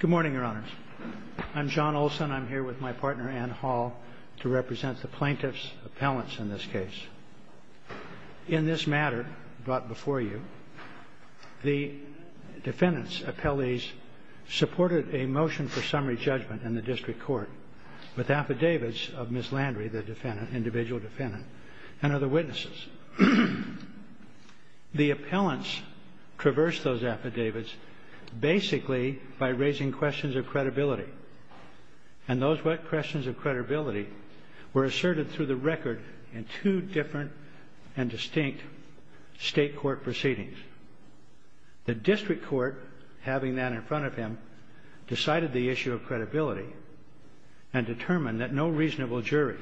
Good morning, your honors. I'm John Olson. I'm here with my partner, Anne Hall, to represent the plaintiffs' appellants in this case. In this matter brought before you, the defendants' appellees supported a motion for summary judgment in the district court with affidavits of Ms. Landry, the individual defendant, and other witnesses. The appellants traversed those affidavits basically by raising questions of credibility. And those questions of credibility were asserted through the record in two different and distinct state court proceedings. The district court, having that in front of him, decided the issue of credibility and determined that no reasonable jury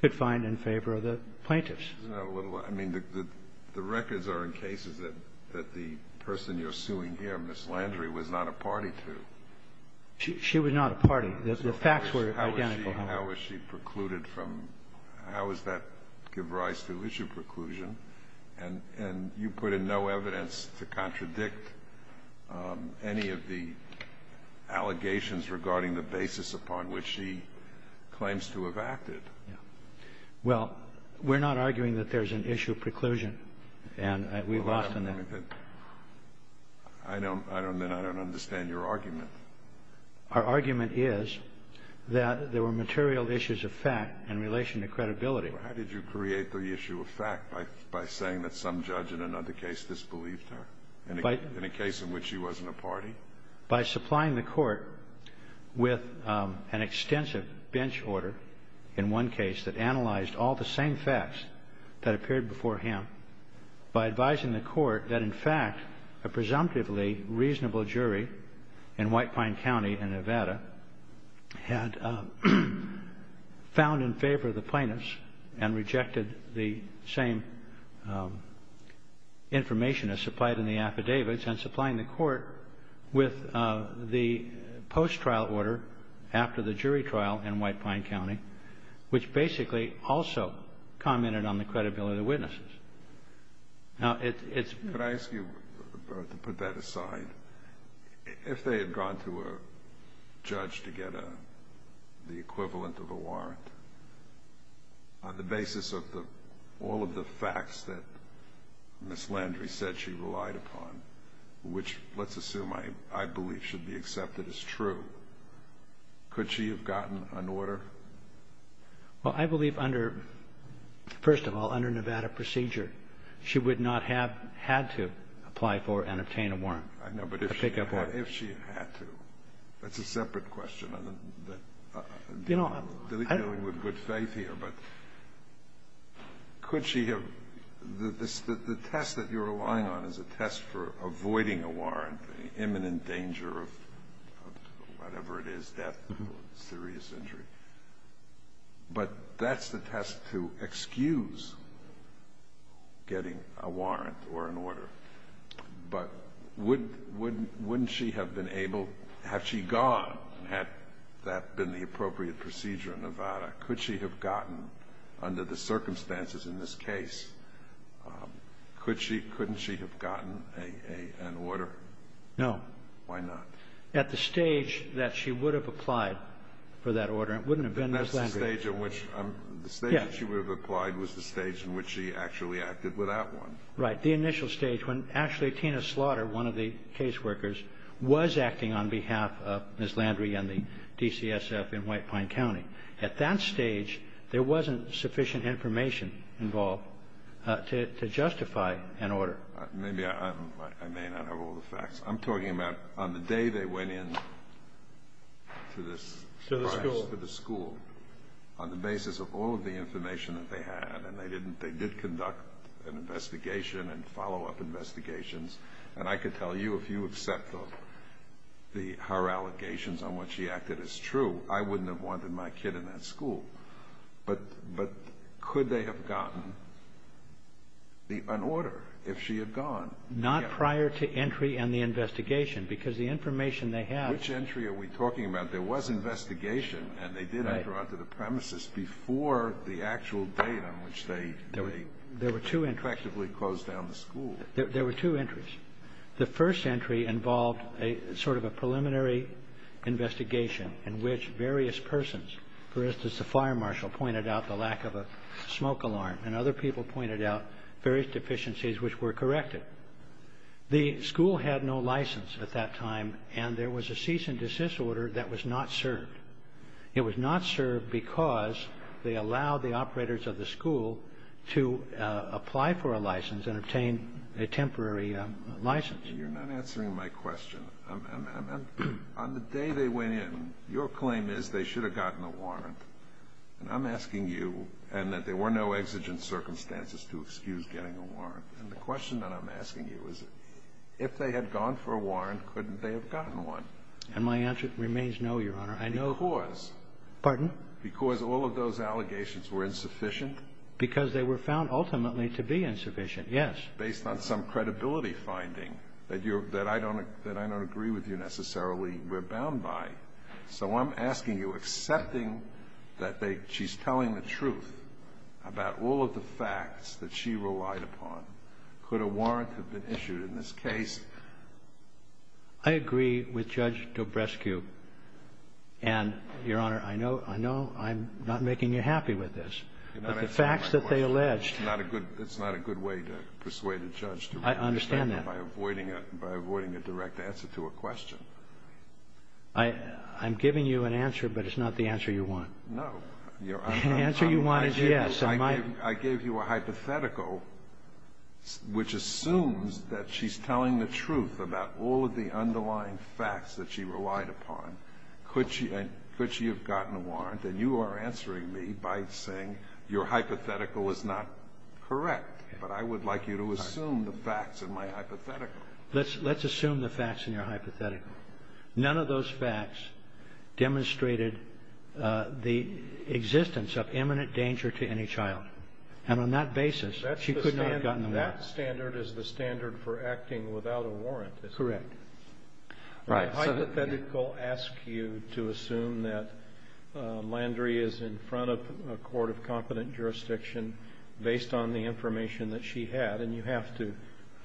could find in favor of the plaintiffs. I mean, the records are in cases that the person you're suing here, Ms. Landry, was not a party to. She was not a party. The facts were identical. Kennedy, how is she precluded from – how does that give rise to issue preclusion? And you put in no evidence to contradict any of the allegations regarding the basis upon which she claims to have acted. Well, we're not arguing that there's an issue preclusion. And we've often – I don't – I don't mean I don't understand your argument. Our argument is that there were material issues of fact in relation to credibility. Well, how did you create the issue of fact? By saying that some judge in another case disbelieved her in a case in which she wasn't a party? By supplying the court with an extensive bench order in one case that analyzed all the same facts that appeared before him. By advising the court that, in fact, a presumptively reasonable jury in White Pine County in Nevada had found in favor of the plaintiffs and rejected the same information as supplied in the affidavits, and supplying the court with the post-trial order after the jury trial in White Pine County, which basically also commented on the credibility of the witnesses. Now, it's – Could I ask you to put that aside? If they had gone to a judge to get the equivalent of a warrant, on the basis of all of the facts that Ms. Landry said she relied upon, which let's assume I believe should be accepted as true, could she have gotten an order? Well, I believe under – first of all, under Nevada procedure, she would not have had to apply for and obtain a warrant. I know, but if she had to, that's a separate question. I'm dealing with good faith here, but could she have – the test that you're relying on is a test for avoiding a warrant, the imminent danger of whatever it is, death or serious injury. But that's the test to excuse getting a warrant or an order. But wouldn't she have been able – had she gone, had that been the appropriate procedure in Nevada, could she have gotten, under the circumstances in this case, couldn't she have gotten an order? No. Why not? At the stage that she would have applied for that order, it wouldn't have been Ms. Landry. That's the stage in which – the stage that she would have applied was the stage in which she actually acted without one. Right. The initial stage, when actually Tina Slaughter, one of the caseworkers, was acting on behalf of Ms. Landry and the DCSF in White Pine County. At that stage, there wasn't sufficient information involved to justify an order. Maybe I'm – I may not have all the facts. I'm talking about on the day they went in to this – To the school. To the school, on the basis of all of the information that they had, and they didn't – they did conduct an investigation and follow-up investigations. And I could tell you, if you accept the – her allegations on what she acted as true, I wouldn't have wanted my kid in that school. But could they have gotten an order if she had gone? Not prior to entry and the investigation, because the information they had – Which entry are we talking about? There was investigation, and they did enter onto the premises before the actual date on which they – There were two entries. Effectively closed down the school. There were two entries. The first entry involved a sort of a preliminary investigation in which various persons – For instance, the fire marshal pointed out the lack of a smoke alarm, and other people pointed out various deficiencies which were corrected. The school had no license at that time, and there was a cease and desist order that was not served. It was not served because they allowed the operators of the school to apply for a license and obtain a temporary license. You're not answering my question. On the day they went in, your claim is they should have gotten a warrant. And I'm asking you, and that there were no exigent circumstances to excuse getting a warrant. And the question that I'm asking you is, if they had gone for a warrant, couldn't they have gotten one? And my answer remains no, Your Honor. Because – Pardon? Because all of those allegations were insufficient? Because they were found ultimately to be insufficient. Yes. Based on some credibility finding that I don't agree with you necessarily rebound by. So I'm asking you, accepting that she's telling the truth about all of the facts that she relied upon, could a warrant have been issued in this case? I agree with Judge Dobrescu. And, Your Honor, I know I'm not making you happy with this. You're not answering my question. It's not a good way to persuade a judge to respond. I understand that. By avoiding a direct answer to a question. I'm giving you an answer, but it's not the answer you want. No. The answer you want is yes. I gave you a hypothetical which assumes that she's telling the truth about all of the underlying facts that she relied upon. Could she have gotten a warrant? And you are answering me by saying your hypothetical is not correct. But I would like you to assume the facts in my hypothetical. Let's assume the facts in your hypothetical. None of those facts demonstrated the existence of imminent danger to any child. And on that basis, she could not have gotten a warrant. That standard is the standard for acting without a warrant. Correct. My hypothetical asks you to assume that Landry is in front of a court of competent jurisdiction based on the information that she had. And you have to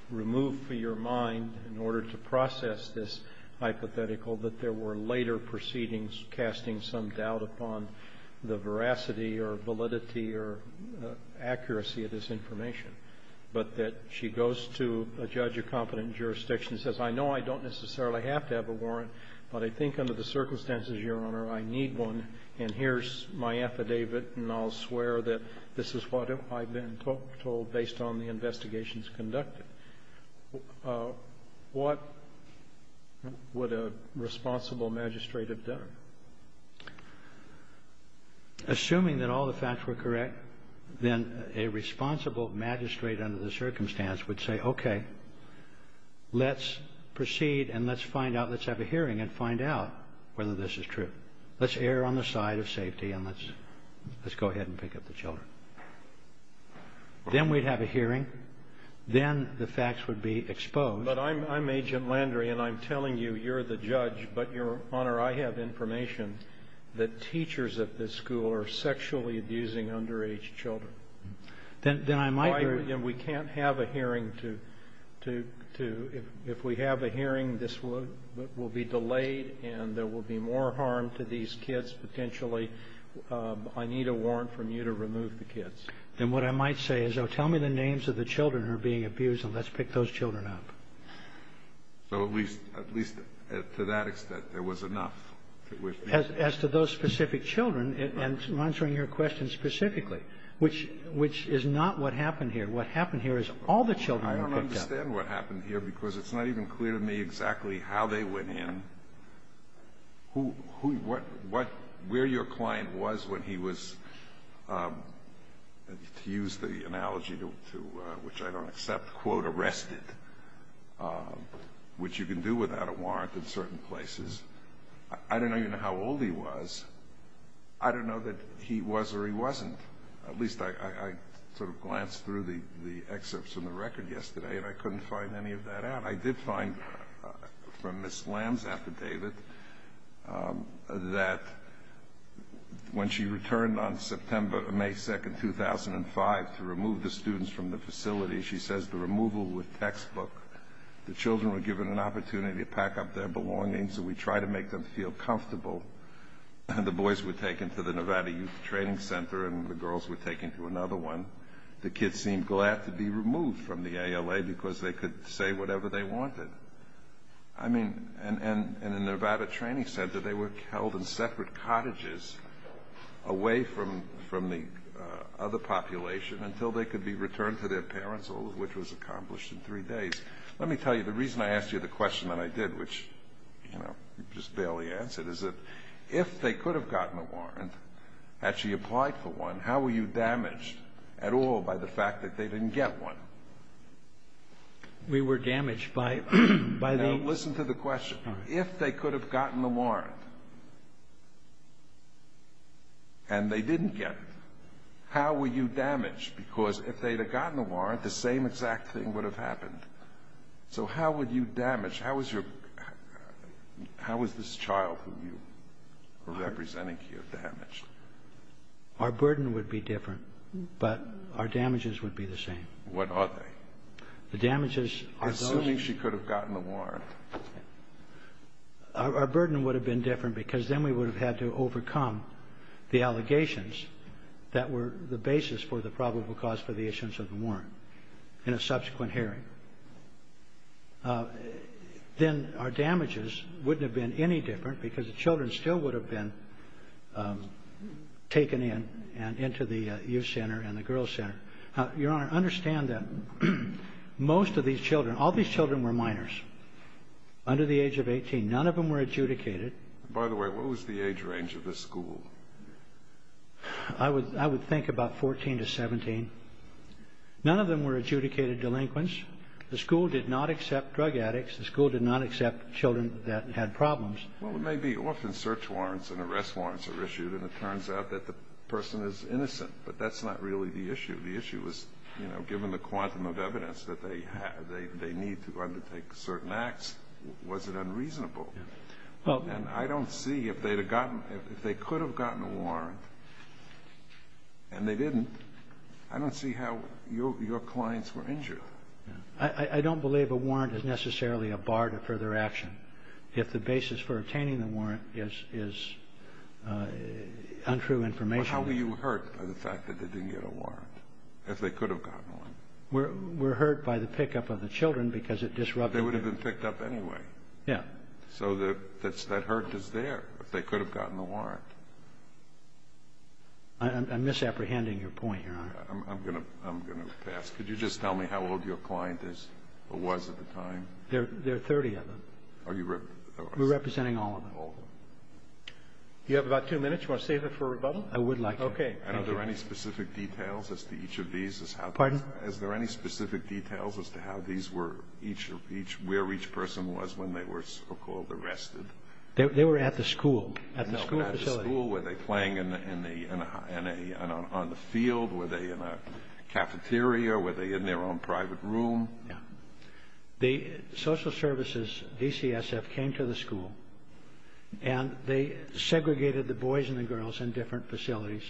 remove for your mind, in order to process this hypothetical, that there were later proceedings casting some doubt upon the veracity or validity or accuracy of this information. But that she goes to a judge of competent jurisdiction and says, I know I don't necessarily have to have a warrant, but I think under the circumstances, Your Honor, I need one. And here's my affidavit, and I'll swear that this is what I've been told based on the investigations conducted. What would a responsible magistrate have done? Assuming that all the facts were correct, then a responsible magistrate under the circumstance would say, okay, let's proceed and let's find out, let's have a hearing and find out whether this is true. Let's err on the side of safety and let's go ahead and pick up the children. Then we'd have a hearing. Then the facts would be exposed. But I'm Agent Landry, and I'm telling you, you're the judge. But, Your Honor, I have information that teachers at this school are sexually abusing underage children. Then I might hear you. And we can't have a hearing. If we have a hearing, this will be delayed and there will be more harm to these kids potentially. I need a warrant from you to remove the kids. Then what I might say is, oh, tell me the names of the children who are being abused and let's pick those children up. So at least to that extent there was enough. As to those specific children, and answering your question specifically, which is not what happened here. What happened here is all the children were picked up. I don't understand what happened here because it's not even clear to me exactly how they went in, where your client was when he was, to use the analogy which I don't accept, quote, arrested, which you can do without a warrant in certain places. I don't even know how old he was. I don't know that he was or he wasn't. At least I sort of glanced through the excerpts in the record yesterday and I couldn't find any of that out. I did find from Ms. Lamb's affidavit that when she returned on May 2, 2005 to remove the students from the facility, she says the removal was textbook. The children were given an opportunity to pack up their belongings and we tried to make them feel comfortable. The boys were taken to the Nevada Youth Training Center and the girls were taken to another one. The kids seemed glad to be removed from the ALA because they could say whatever they wanted. And in the Nevada Training Center they were held in separate cottages away from the other population until they could be returned to their parents, all of which was accomplished in three days. Let me tell you, the reason I asked you the question that I did, which you just barely answered, is that if they could have gotten a warrant, had she applied for one, how were you damaged at all by the fact that they didn't get one? We were damaged by the... Now listen to the question. If they could have gotten a warrant and they didn't get it, how were you damaged? Because if they had gotten a warrant, the same exact thing would have happened. So how were you damaged? How was this child who you were representing here damaged? Our burden would be different, but our damages would be the same. What are they? The damages are those... Assuming she could have gotten a warrant. Our burden would have been different because then we would have had to overcome the allegations that were the basis for the probable cause for the issuance of the warrant in a subsequent hearing. Then our damages wouldn't have been any different because the children still would have been taken in and into the youth center and the girls center. Your Honor, understand that most of these children, all these children were minors under the age of 18. None of them were adjudicated. By the way, what was the age range of this school? I would think about 14 to 17. None of them were adjudicated delinquents. The school did not accept drug addicts. The school did not accept children that had problems. Well, it may be often search warrants and arrest warrants are issued and it turns out that the person is innocent, but that's not really the issue. The issue is given the quantum of evidence that they need to undertake certain acts, was it unreasonable? And I don't see if they could have gotten a warrant and they didn't. I don't see how your clients were injured. I don't believe a warrant is necessarily a bar to further action. If the basis for obtaining the warrant is untrue information. Well, how were you hurt by the fact that they didn't get a warrant, if they could have gotten one? We're hurt by the pickup of the children because it disrupted them. They would have been picked up anyway. Yeah. So that hurt is there. They could have gotten a warrant. I'm misapprehending your point, Your Honor. I'm going to pass. Could you just tell me how old your client is or was at the time? There are 30 of them. We're representing all of them. All of them. You have about two minutes. You want to save it for rebuttal? I would like to. Okay. Are there any specific details as to each of these? Pardon? Are there any specific details as to how these were each or where each person was when they were so-called arrested? They were at the school, at the school facility. No, at the school. Were they playing on the field? Were they in a cafeteria? Were they in their own private room? Yeah. The social services, DCSF, came to the school, and they segregated the boys and the girls in different facilities,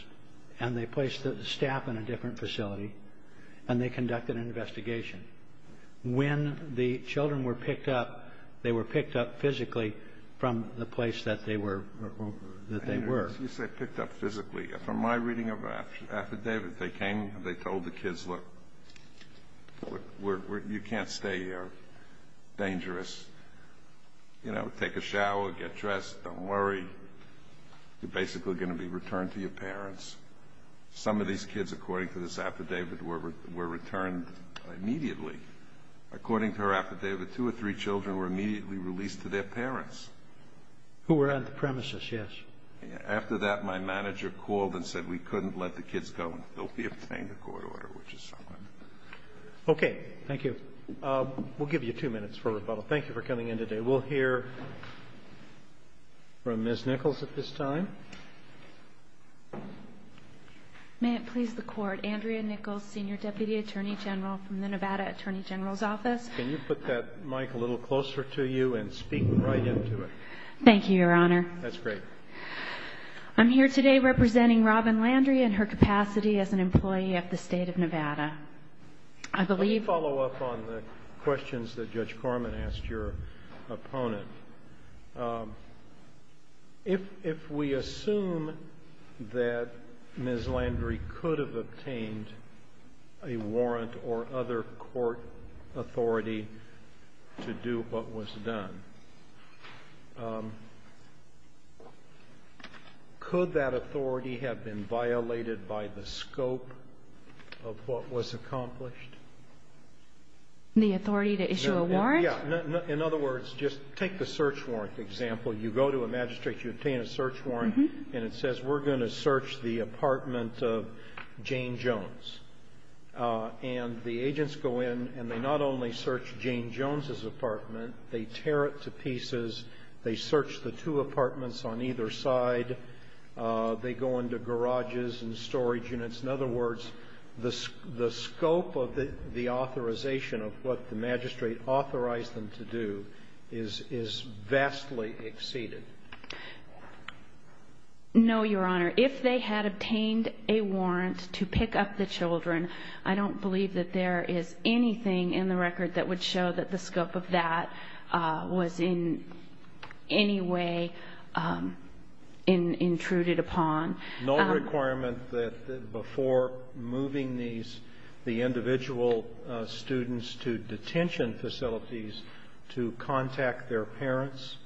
and they placed the staff in a different facility, and they conducted an investigation. When the children were picked up, they were picked up physically from the place that they were. You say picked up physically. From my reading of the affidavit, they came and they told the kids, look, you can't stay here. Dangerous. You know, take a shower, get dressed, don't worry. You're basically going to be returned to your parents. Some of these kids, according to this affidavit, were returned immediately. According to her affidavit, two or three children were immediately released to their parents. Who were on the premises, yes. After that, my manager called and said we couldn't let the kids go, and they'll be obtained a court order, which is somewhat. Okay. Thank you. We'll give you two minutes for rebuttal. Thank you for coming in today. We'll hear from Ms. Nichols at this time. May it please the Court. Andrea Nichols, Senior Deputy Attorney General from the Nevada Attorney General's Office. Can you put that mic a little closer to you and speak right into it? Thank you, Your Honor. That's great. I'm here today representing Robin Landry and her capacity as an employee of the State of Nevada. Let me follow up on the questions that Judge Corman asked your opponent. If we assume that Ms. Landry could have obtained a warrant or other court authority to do what was done, could that authority have been violated by the scope of what was accomplished? The authority to issue a warrant? Yeah. In other words, just take the search warrant example. You go to a magistrate, you obtain a search warrant, and it says we're going to search the apartment of Jane Jones. And the agents go in, and they not only search Jane Jones' apartment, they tear it to pieces. They search the two apartments on either side. They go into garages and storage units. In other words, the scope of the authorization of what the magistrate authorized them to do is vastly exceeded. No, Your Honor. If they had obtained a warrant to pick up the children, I don't believe that there is anything in the record that would show that the scope of that was in any way intruded upon. No requirement that before moving the individual students to detention facilities to contact their parents?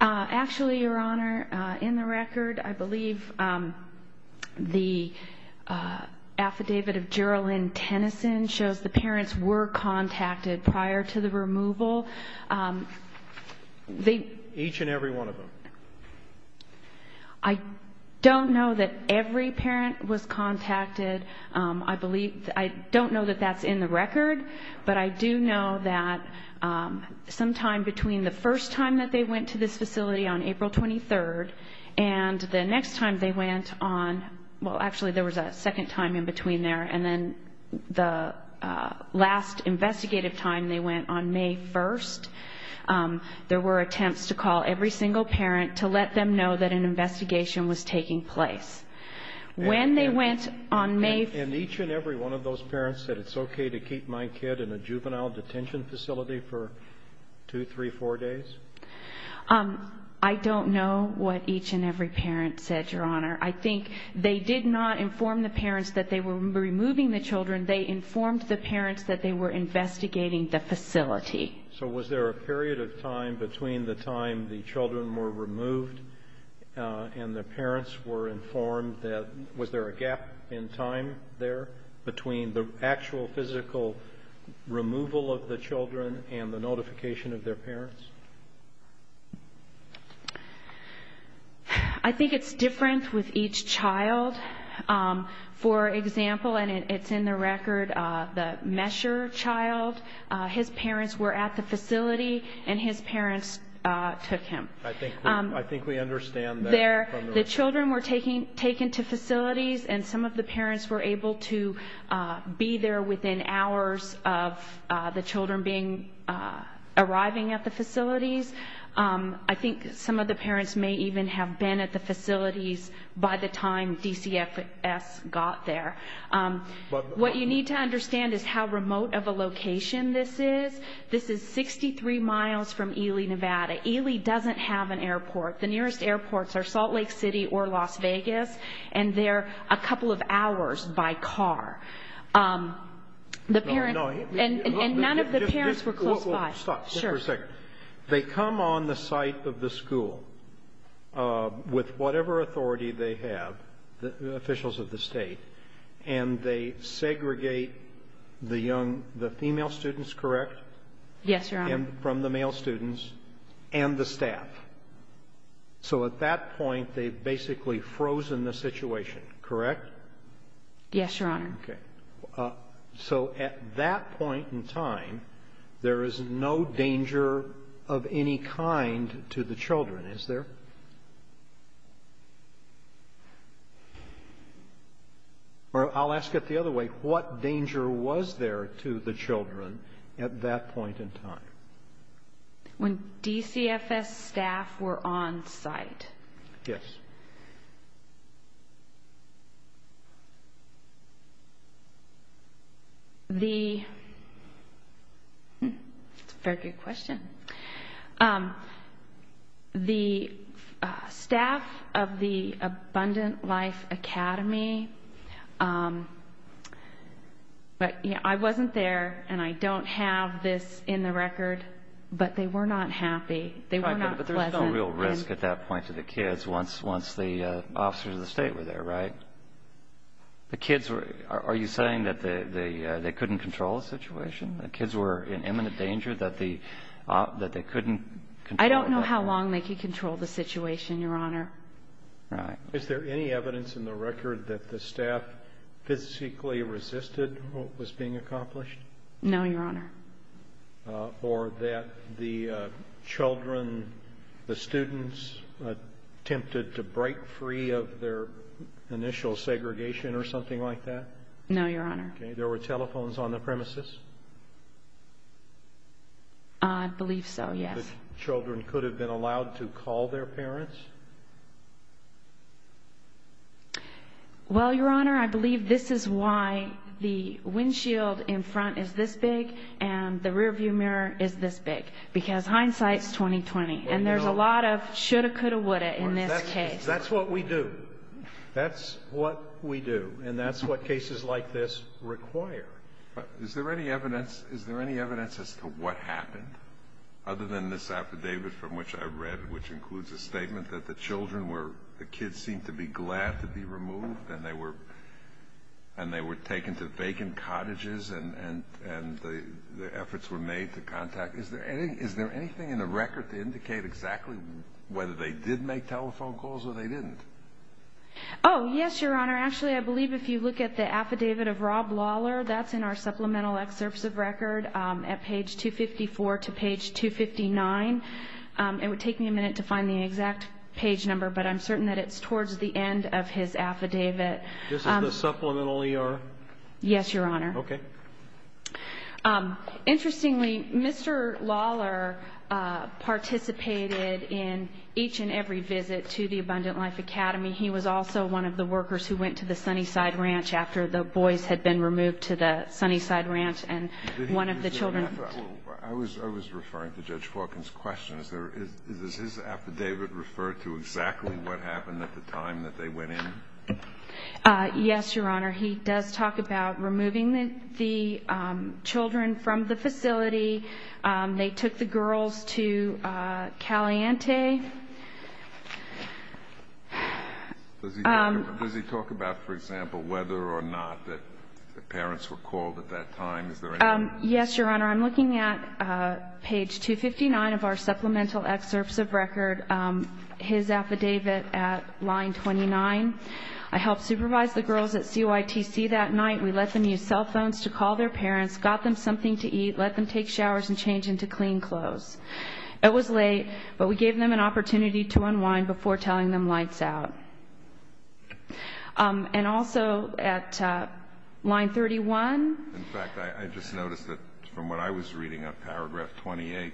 Actually, Your Honor, in the record, I believe the affidavit of Jerilyn Tennyson shows the parents were contacted prior to the removal. Each and every one of them? I don't know that every parent was contacted. I don't know that that's in the record, but I do know that sometime between the first time that they went to this facility on April 23rd and the next time they went on – well, actually, there was a second time in between there – the last investigative time they went on May 1st, there were attempts to call every single parent to let them know that an investigation was taking place. When they went on May – And each and every one of those parents said, it's okay to keep my kid in a juvenile detention facility for two, three, four days? I don't know what each and every parent said, Your Honor. I think they did not inform the parents that they were removing the children. They informed the parents that they were investigating the facility. So was there a period of time between the time the children were removed and the parents were informed that – was there a gap in time there between the actual physical removal of the children and the notification of their parents? I think it's different with each child. For example, and it's in the record, the Mesher child, his parents were at the facility, and his parents took him. I think we understand that. The children were taken to facilities, and some of the parents were able to be there within hours of the children arriving at the facilities. I think some of the parents may even have been at the facilities by the time DCFS got there. What you need to understand is how remote of a location this is. This is 63 miles from Ely, Nevada. Ely doesn't have an airport. The nearest airports are Salt Lake City or Las Vegas, and they're a couple of hours by car. And none of the parents were close by. Just for a second. They come on the site of the school with whatever authority they have, the officials of the state, and they segregate the female students, correct? Yes, Your Honor. And from the male students and the staff. So at that point, they've basically frozen the situation, correct? Yes, Your Honor. Okay. So at that point in time, there is no danger of any kind to the children, is there? Or I'll ask it the other way. What danger was there to the children at that point in time? When DCFS staff were on site? Yes. That's a very good question. The staff of the Abundant Life Academy, I wasn't there, and I don't have this in the record, but they were not happy. They were not pleasant. But there was no real risk at that point to the kids once the officers of the state were there, right? Are you saying that they couldn't control the situation? The kids were in imminent danger that they couldn't control it? I don't know how long they could control the situation, Your Honor. Right. Is there any evidence in the record that the staff physically resisted what was being accomplished? No, Your Honor. Or that the children, the students, attempted to break free of their initial segregation or something like that? No, Your Honor. Okay. There were telephones on the premises? I believe so, yes. And children could have been allowed to call their parents? Well, Your Honor, I believe this is why the windshield in front is this big and the rearview mirror is this big, because hindsight is 20-20, and there's a lot of shoulda, coulda, woulda in this case. That's what we do. That's what we do, and that's what cases like this require. Is there any evidence as to what happened other than this affidavit from which I read, which includes a statement that the children were, the kids seemed to be glad to be removed and they were taken to vacant cottages and the efforts were made to contact? Is there anything in the record to indicate exactly whether they did make telephone calls or they didn't? Oh, yes, Your Honor. Actually, I believe if you look at the affidavit of Rob Lawler, that's in our supplemental excerpts of record at page 254 to page 259. It would take me a minute to find the exact page number, but I'm certain that it's towards the end of his affidavit. This is the supplemental ER? Yes, Your Honor. Okay. Interestingly, Mr. Lawler participated in each and every visit to the Abundant Life Academy. He was also one of the workers who went to the Sunnyside Ranch after the boys had been removed to the Sunnyside Ranch and one of the children. I was referring to Judge Faulconer's question. Does his affidavit refer to exactly what happened at the time that they went in? Yes, Your Honor. He does talk about removing the children from the facility. They took the girls to Caliente. Does he talk about, for example, whether or not the parents were called at that time? Is there any? Yes, Your Honor. I'm looking at page 259 of our supplemental excerpts of record, his affidavit at line 29. I helped supervise the girls at CYTC that night. We let them use cell phones to call their parents, got them something to eat, let them take showers and change into clean clothes. It was late, but we gave them an opportunity to unwind before telling them lights out. And also at line 31. In fact, I just noticed that from what I was reading on paragraph 28,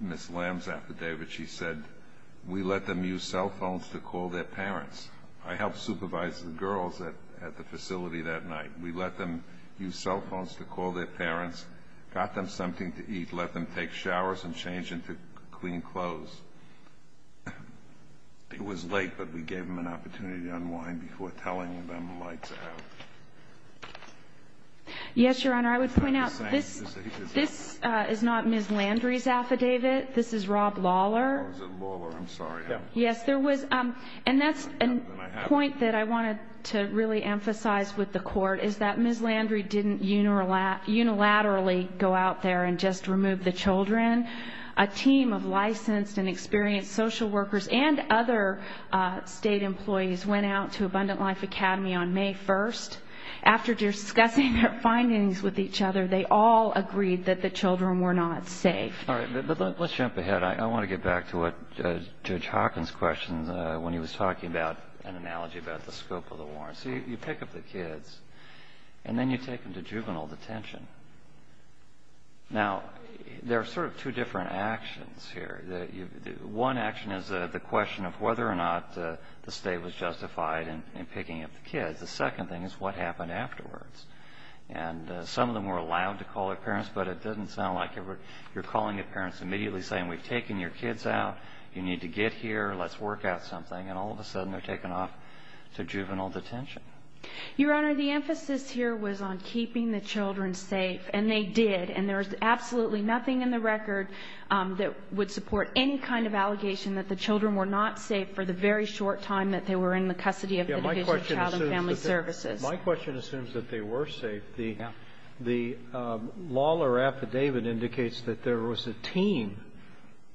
Ms. Lamb's affidavit, she said, we let them use cell phones to call their parents. I helped supervise the girls at the facility that night. We let them use cell phones to call their parents, got them something to eat, let them take showers and change into clean clothes. It was late, but we gave them an opportunity to unwind before telling them lights out. Yes, Your Honor. I would point out this is not Ms. Landry's affidavit. This is Rob Lawler. Oh, is it Lawler? I'm sorry. Yes. And that's a point that I wanted to really emphasize with the court, is that Ms. Landry didn't unilaterally go out there and just remove the children. A team of licensed and experienced social workers and other state employees went out to Abundant Life Academy on May 1st. After discussing their findings with each other, they all agreed that the children were not safe. All right. Let's jump ahead. I want to get back to what Judge Hawkins questioned when he was talking about an analogy about the scope of the war. So you pick up the kids, and then you take them to juvenile detention. Now, there are sort of two different actions here. One action is the question of whether or not the state was justified in picking up the kids. The second thing is what happened afterwards. And some of them were allowed to call their parents, but it doesn't sound like you're calling your parents immediately saying, we've taken your kids out, you need to get here, let's work out something. And all of a sudden they're taken off to juvenile detention. Your Honor, the emphasis here was on keeping the children safe, and they did. And there was absolutely nothing in the record that would support any kind of allegation that the children were not safe for the very short time that they were in the custody of the Division of Child and Family Services. My question assumes that they were safe. The lawler affidavit indicates that there was a team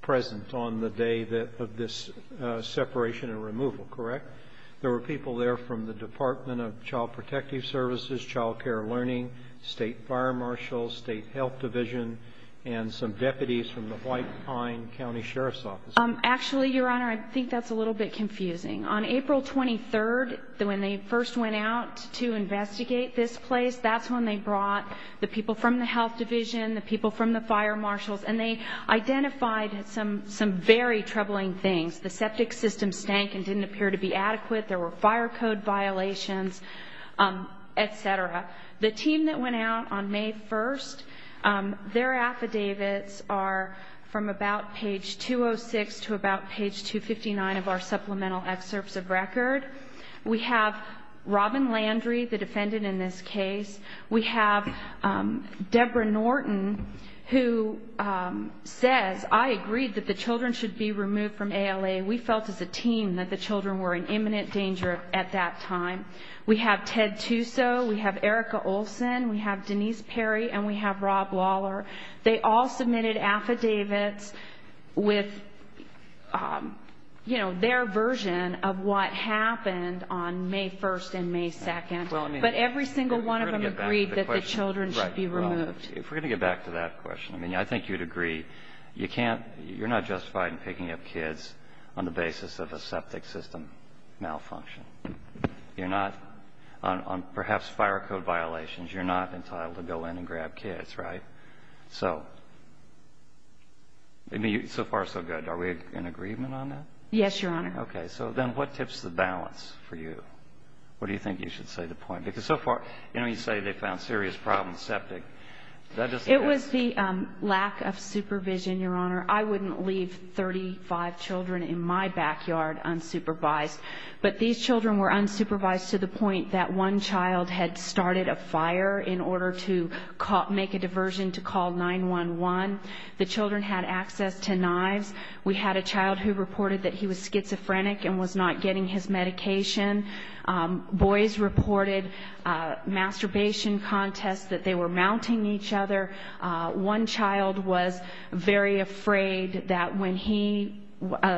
present on the day of this separation and removal, correct? There were people there from the Department of Child Protective Services, Child Care Learning, State Fire Marshals, State Health Division, and some deputies from the White Pine County Sheriff's Office. Actually, Your Honor, I think that's a little bit confusing. On April 23rd, when they first went out to investigate this place, that's when they brought the people from the Health Division, the people from the Fire Marshals, and they identified some very troubling things. The septic system stank and didn't appear to be adequate, there were fire code violations, et cetera. The team that went out on May 1st, their affidavits are from about page 206 to about page 259 of our supplemental excerpts of record. We have Robin Landry, the defendant in this case. We have Deborah Norton, who says, I agreed that the children should be removed from ALA. We felt as a team that the children were in imminent danger at that time. We have Ted Tuso, we have Erica Olson, we have Denise Perry, and we have Rob Waller. They all submitted affidavits with, you know, their version of what happened on May 1st and May 2nd. But every single one of them agreed that the children should be removed. If we're going to get back to that question, I mean, I think you'd agree, you can't, you're not justified in picking up kids on the basis of a septic system malfunction. You're not, on perhaps fire code violations, you're not entitled to go in and grab kids, right? So, I mean, so far so good. Are we in agreement on that? Yes, Your Honor. Okay. So then what tips the balance for you? What do you think you should say to the point? Because so far, you know, you say they found serious problems septic. It was the lack of supervision, Your Honor. I wouldn't leave 35 children in my backyard unsupervised. But these children were unsupervised to the point that one child had started a fire in order to make a diversion to call 911. The children had access to knives. We had a child who reported that he was schizophrenic and was not getting his medication. Boys reported masturbation contests, that they were mounting each other. One child was very afraid that when he,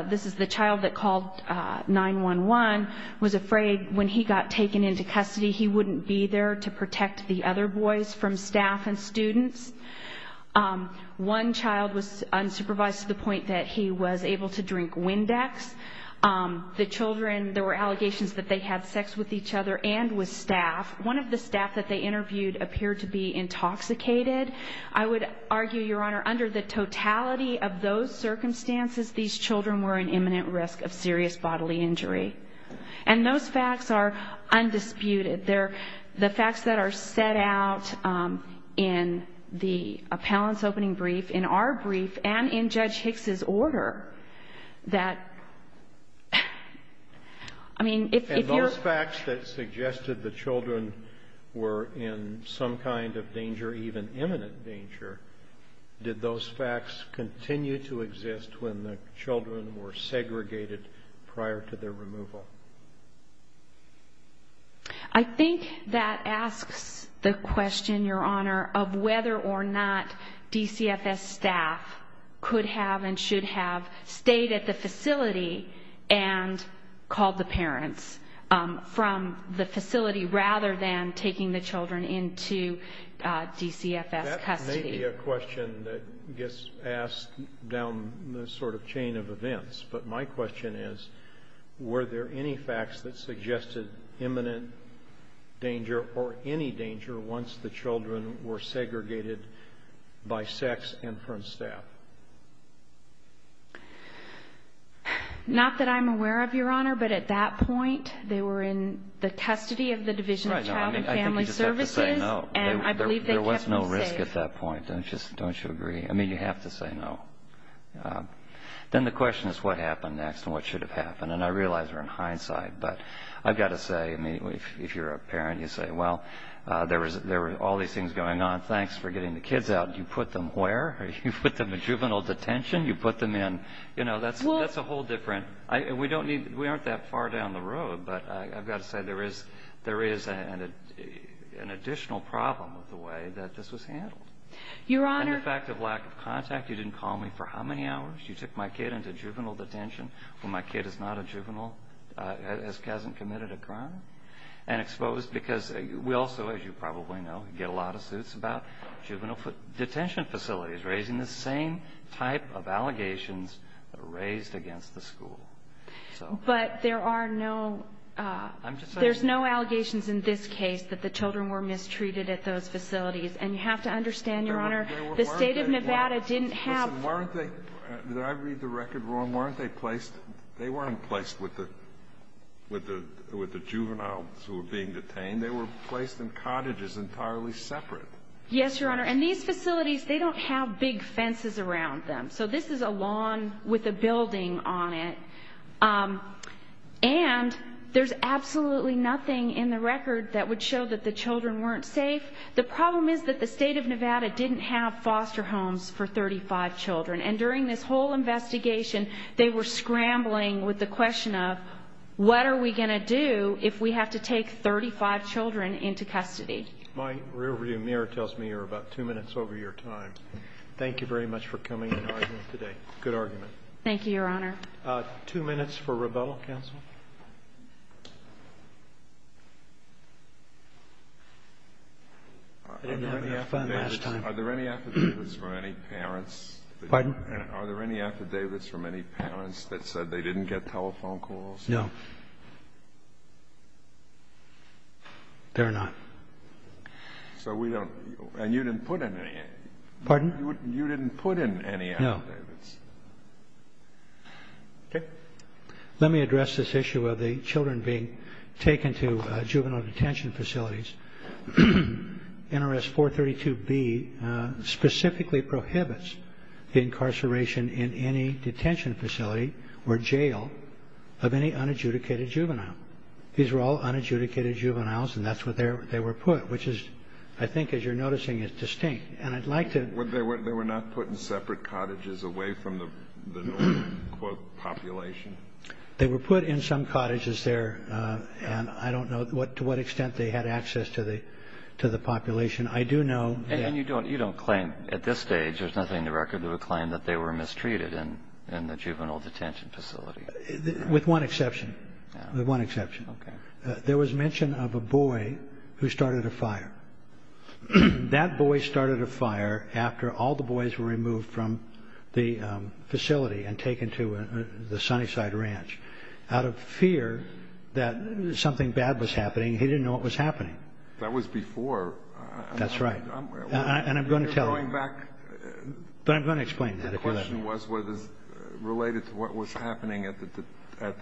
this is the child that called 911, was afraid when he got taken into custody, he wouldn't be there to protect the other boys from staff and students. One child was unsupervised to the point that he was able to drink Windex. The children, there were allegations that they had sex with each other and with staff. One of the staff that they interviewed appeared to be intoxicated. I would argue, Your Honor, under the totality of those circumstances, these children were in imminent risk of serious bodily injury. And those facts are undisputed. They're the facts that are set out in the appellant's opening brief, in our brief, and in Judge Hicks's order that, I mean, if you're – if the children were in some kind of danger, even imminent danger, did those facts continue to exist when the children were segregated prior to their removal? I think that asks the question, Your Honor, of whether or not DCFS staff could have and should have stayed at the facility and called the parents from the facility rather than taking the children into DCFS custody. That may be a question that gets asked down the sort of chain of events. But my question is, were there any facts that suggested imminent danger or any danger once the children were segregated by sex and from staff? Not that I'm aware of, Your Honor. But at that point, they were in the custody of the Division of Child and Family Services. Right. I think you just have to say no. And I believe they kept them safe. There was no risk at that point. Don't you agree? I mean, you have to say no. Then the question is what happened next and what should have happened. And I realize we're in hindsight. But I've got to say, I mean, if you're a parent, you say, well, there were all these things going on. Thanks for getting the kids out. You put them where? You put them in juvenile detention? You put them in – you know, that's a whole different – we don't need – we aren't that far down the road. But I've got to say, there is an additional problem with the way that this was handled. Your Honor – The fact of lack of contact, you didn't call me for how many hours? You took my kid into juvenile detention when my kid is not a juvenile – hasn't committed a crime? And exposed – because we also, as you probably know, get a lot of suits about juvenile detention facilities, raising the same type of allegations raised against the school. But there are no – there's no allegations in this case that the children were mistreated at those facilities. And you have to understand, Your Honor, the state of Nevada didn't have – Listen, weren't they – did I read the record wrong? Weren't they placed – they weren't placed with the juveniles who were being detained. They were placed in cottages entirely separate. Yes, Your Honor. And these facilities, they don't have big fences around them. So this is a lawn with a building on it. And there's absolutely nothing in the record that would show that the children weren't safe. The problem is that the state of Nevada didn't have foster homes for 35 children. And during this whole investigation, they were scrambling with the question of, what are we going to do if we have to take 35 children into custody? My rearview mirror tells me you're about two minutes over your time. Thank you very much for coming and arguing today. Good argument. Thank you, Your Honor. Two minutes for rebuttal, counsel. I didn't have enough fun last time. Are there any affidavits from any parents that said they didn't get telephone calls? No. There are not. So we don't – and you didn't put in any. Pardon? You didn't put in any affidavits. Okay. Let me address this issue of the children being taken to juvenile detention facilities. NRS 432B specifically prohibits the incarceration in any detention facility or jail of any unadjudicated juvenile. These were all unadjudicated juveniles, and that's where they were put, which is, I think, as you're noticing, is distinct. They were not put in separate cottages away from the, quote, population? They were put in some cottages there, and I don't know to what extent they had access to the population. I do know – And you don't claim at this stage, there's nothing in the record that would claim that they were mistreated in the juvenile detention facility? With one exception. With one exception. Okay. There was mention of a boy who started a fire. That boy started a fire after all the boys were removed from the facility and taken to the Sunnyside Ranch out of fear that something bad was happening. He didn't know what was happening. That was before. That's right. And I'm going to tell you. Going back. But I'm going to explain that. The question was related to what was happening at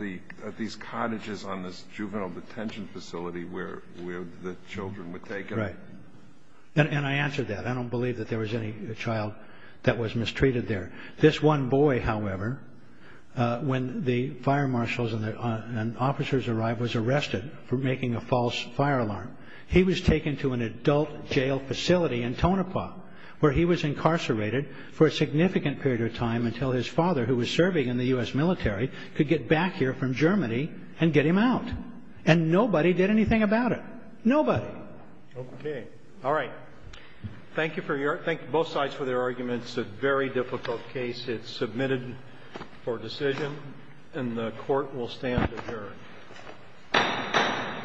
these cottages on this juvenile detention facility where the children were taken. Right. And I answered that. I don't believe that there was any child that was mistreated there. This one boy, however, when the fire marshals and officers arrived, was arrested for making a false fire alarm. He was taken to an adult jail facility in Tonopah where he was incarcerated for a significant period of time until his father, who was serving in the U.S. military, could get back here from Germany and get him out. And nobody did anything about it. Nobody. Okay. All right. Thank you for your arguments. Both sides for their arguments. It's a very difficult case. It's submitted for decision. And the Court will stand adjourned. Roberts.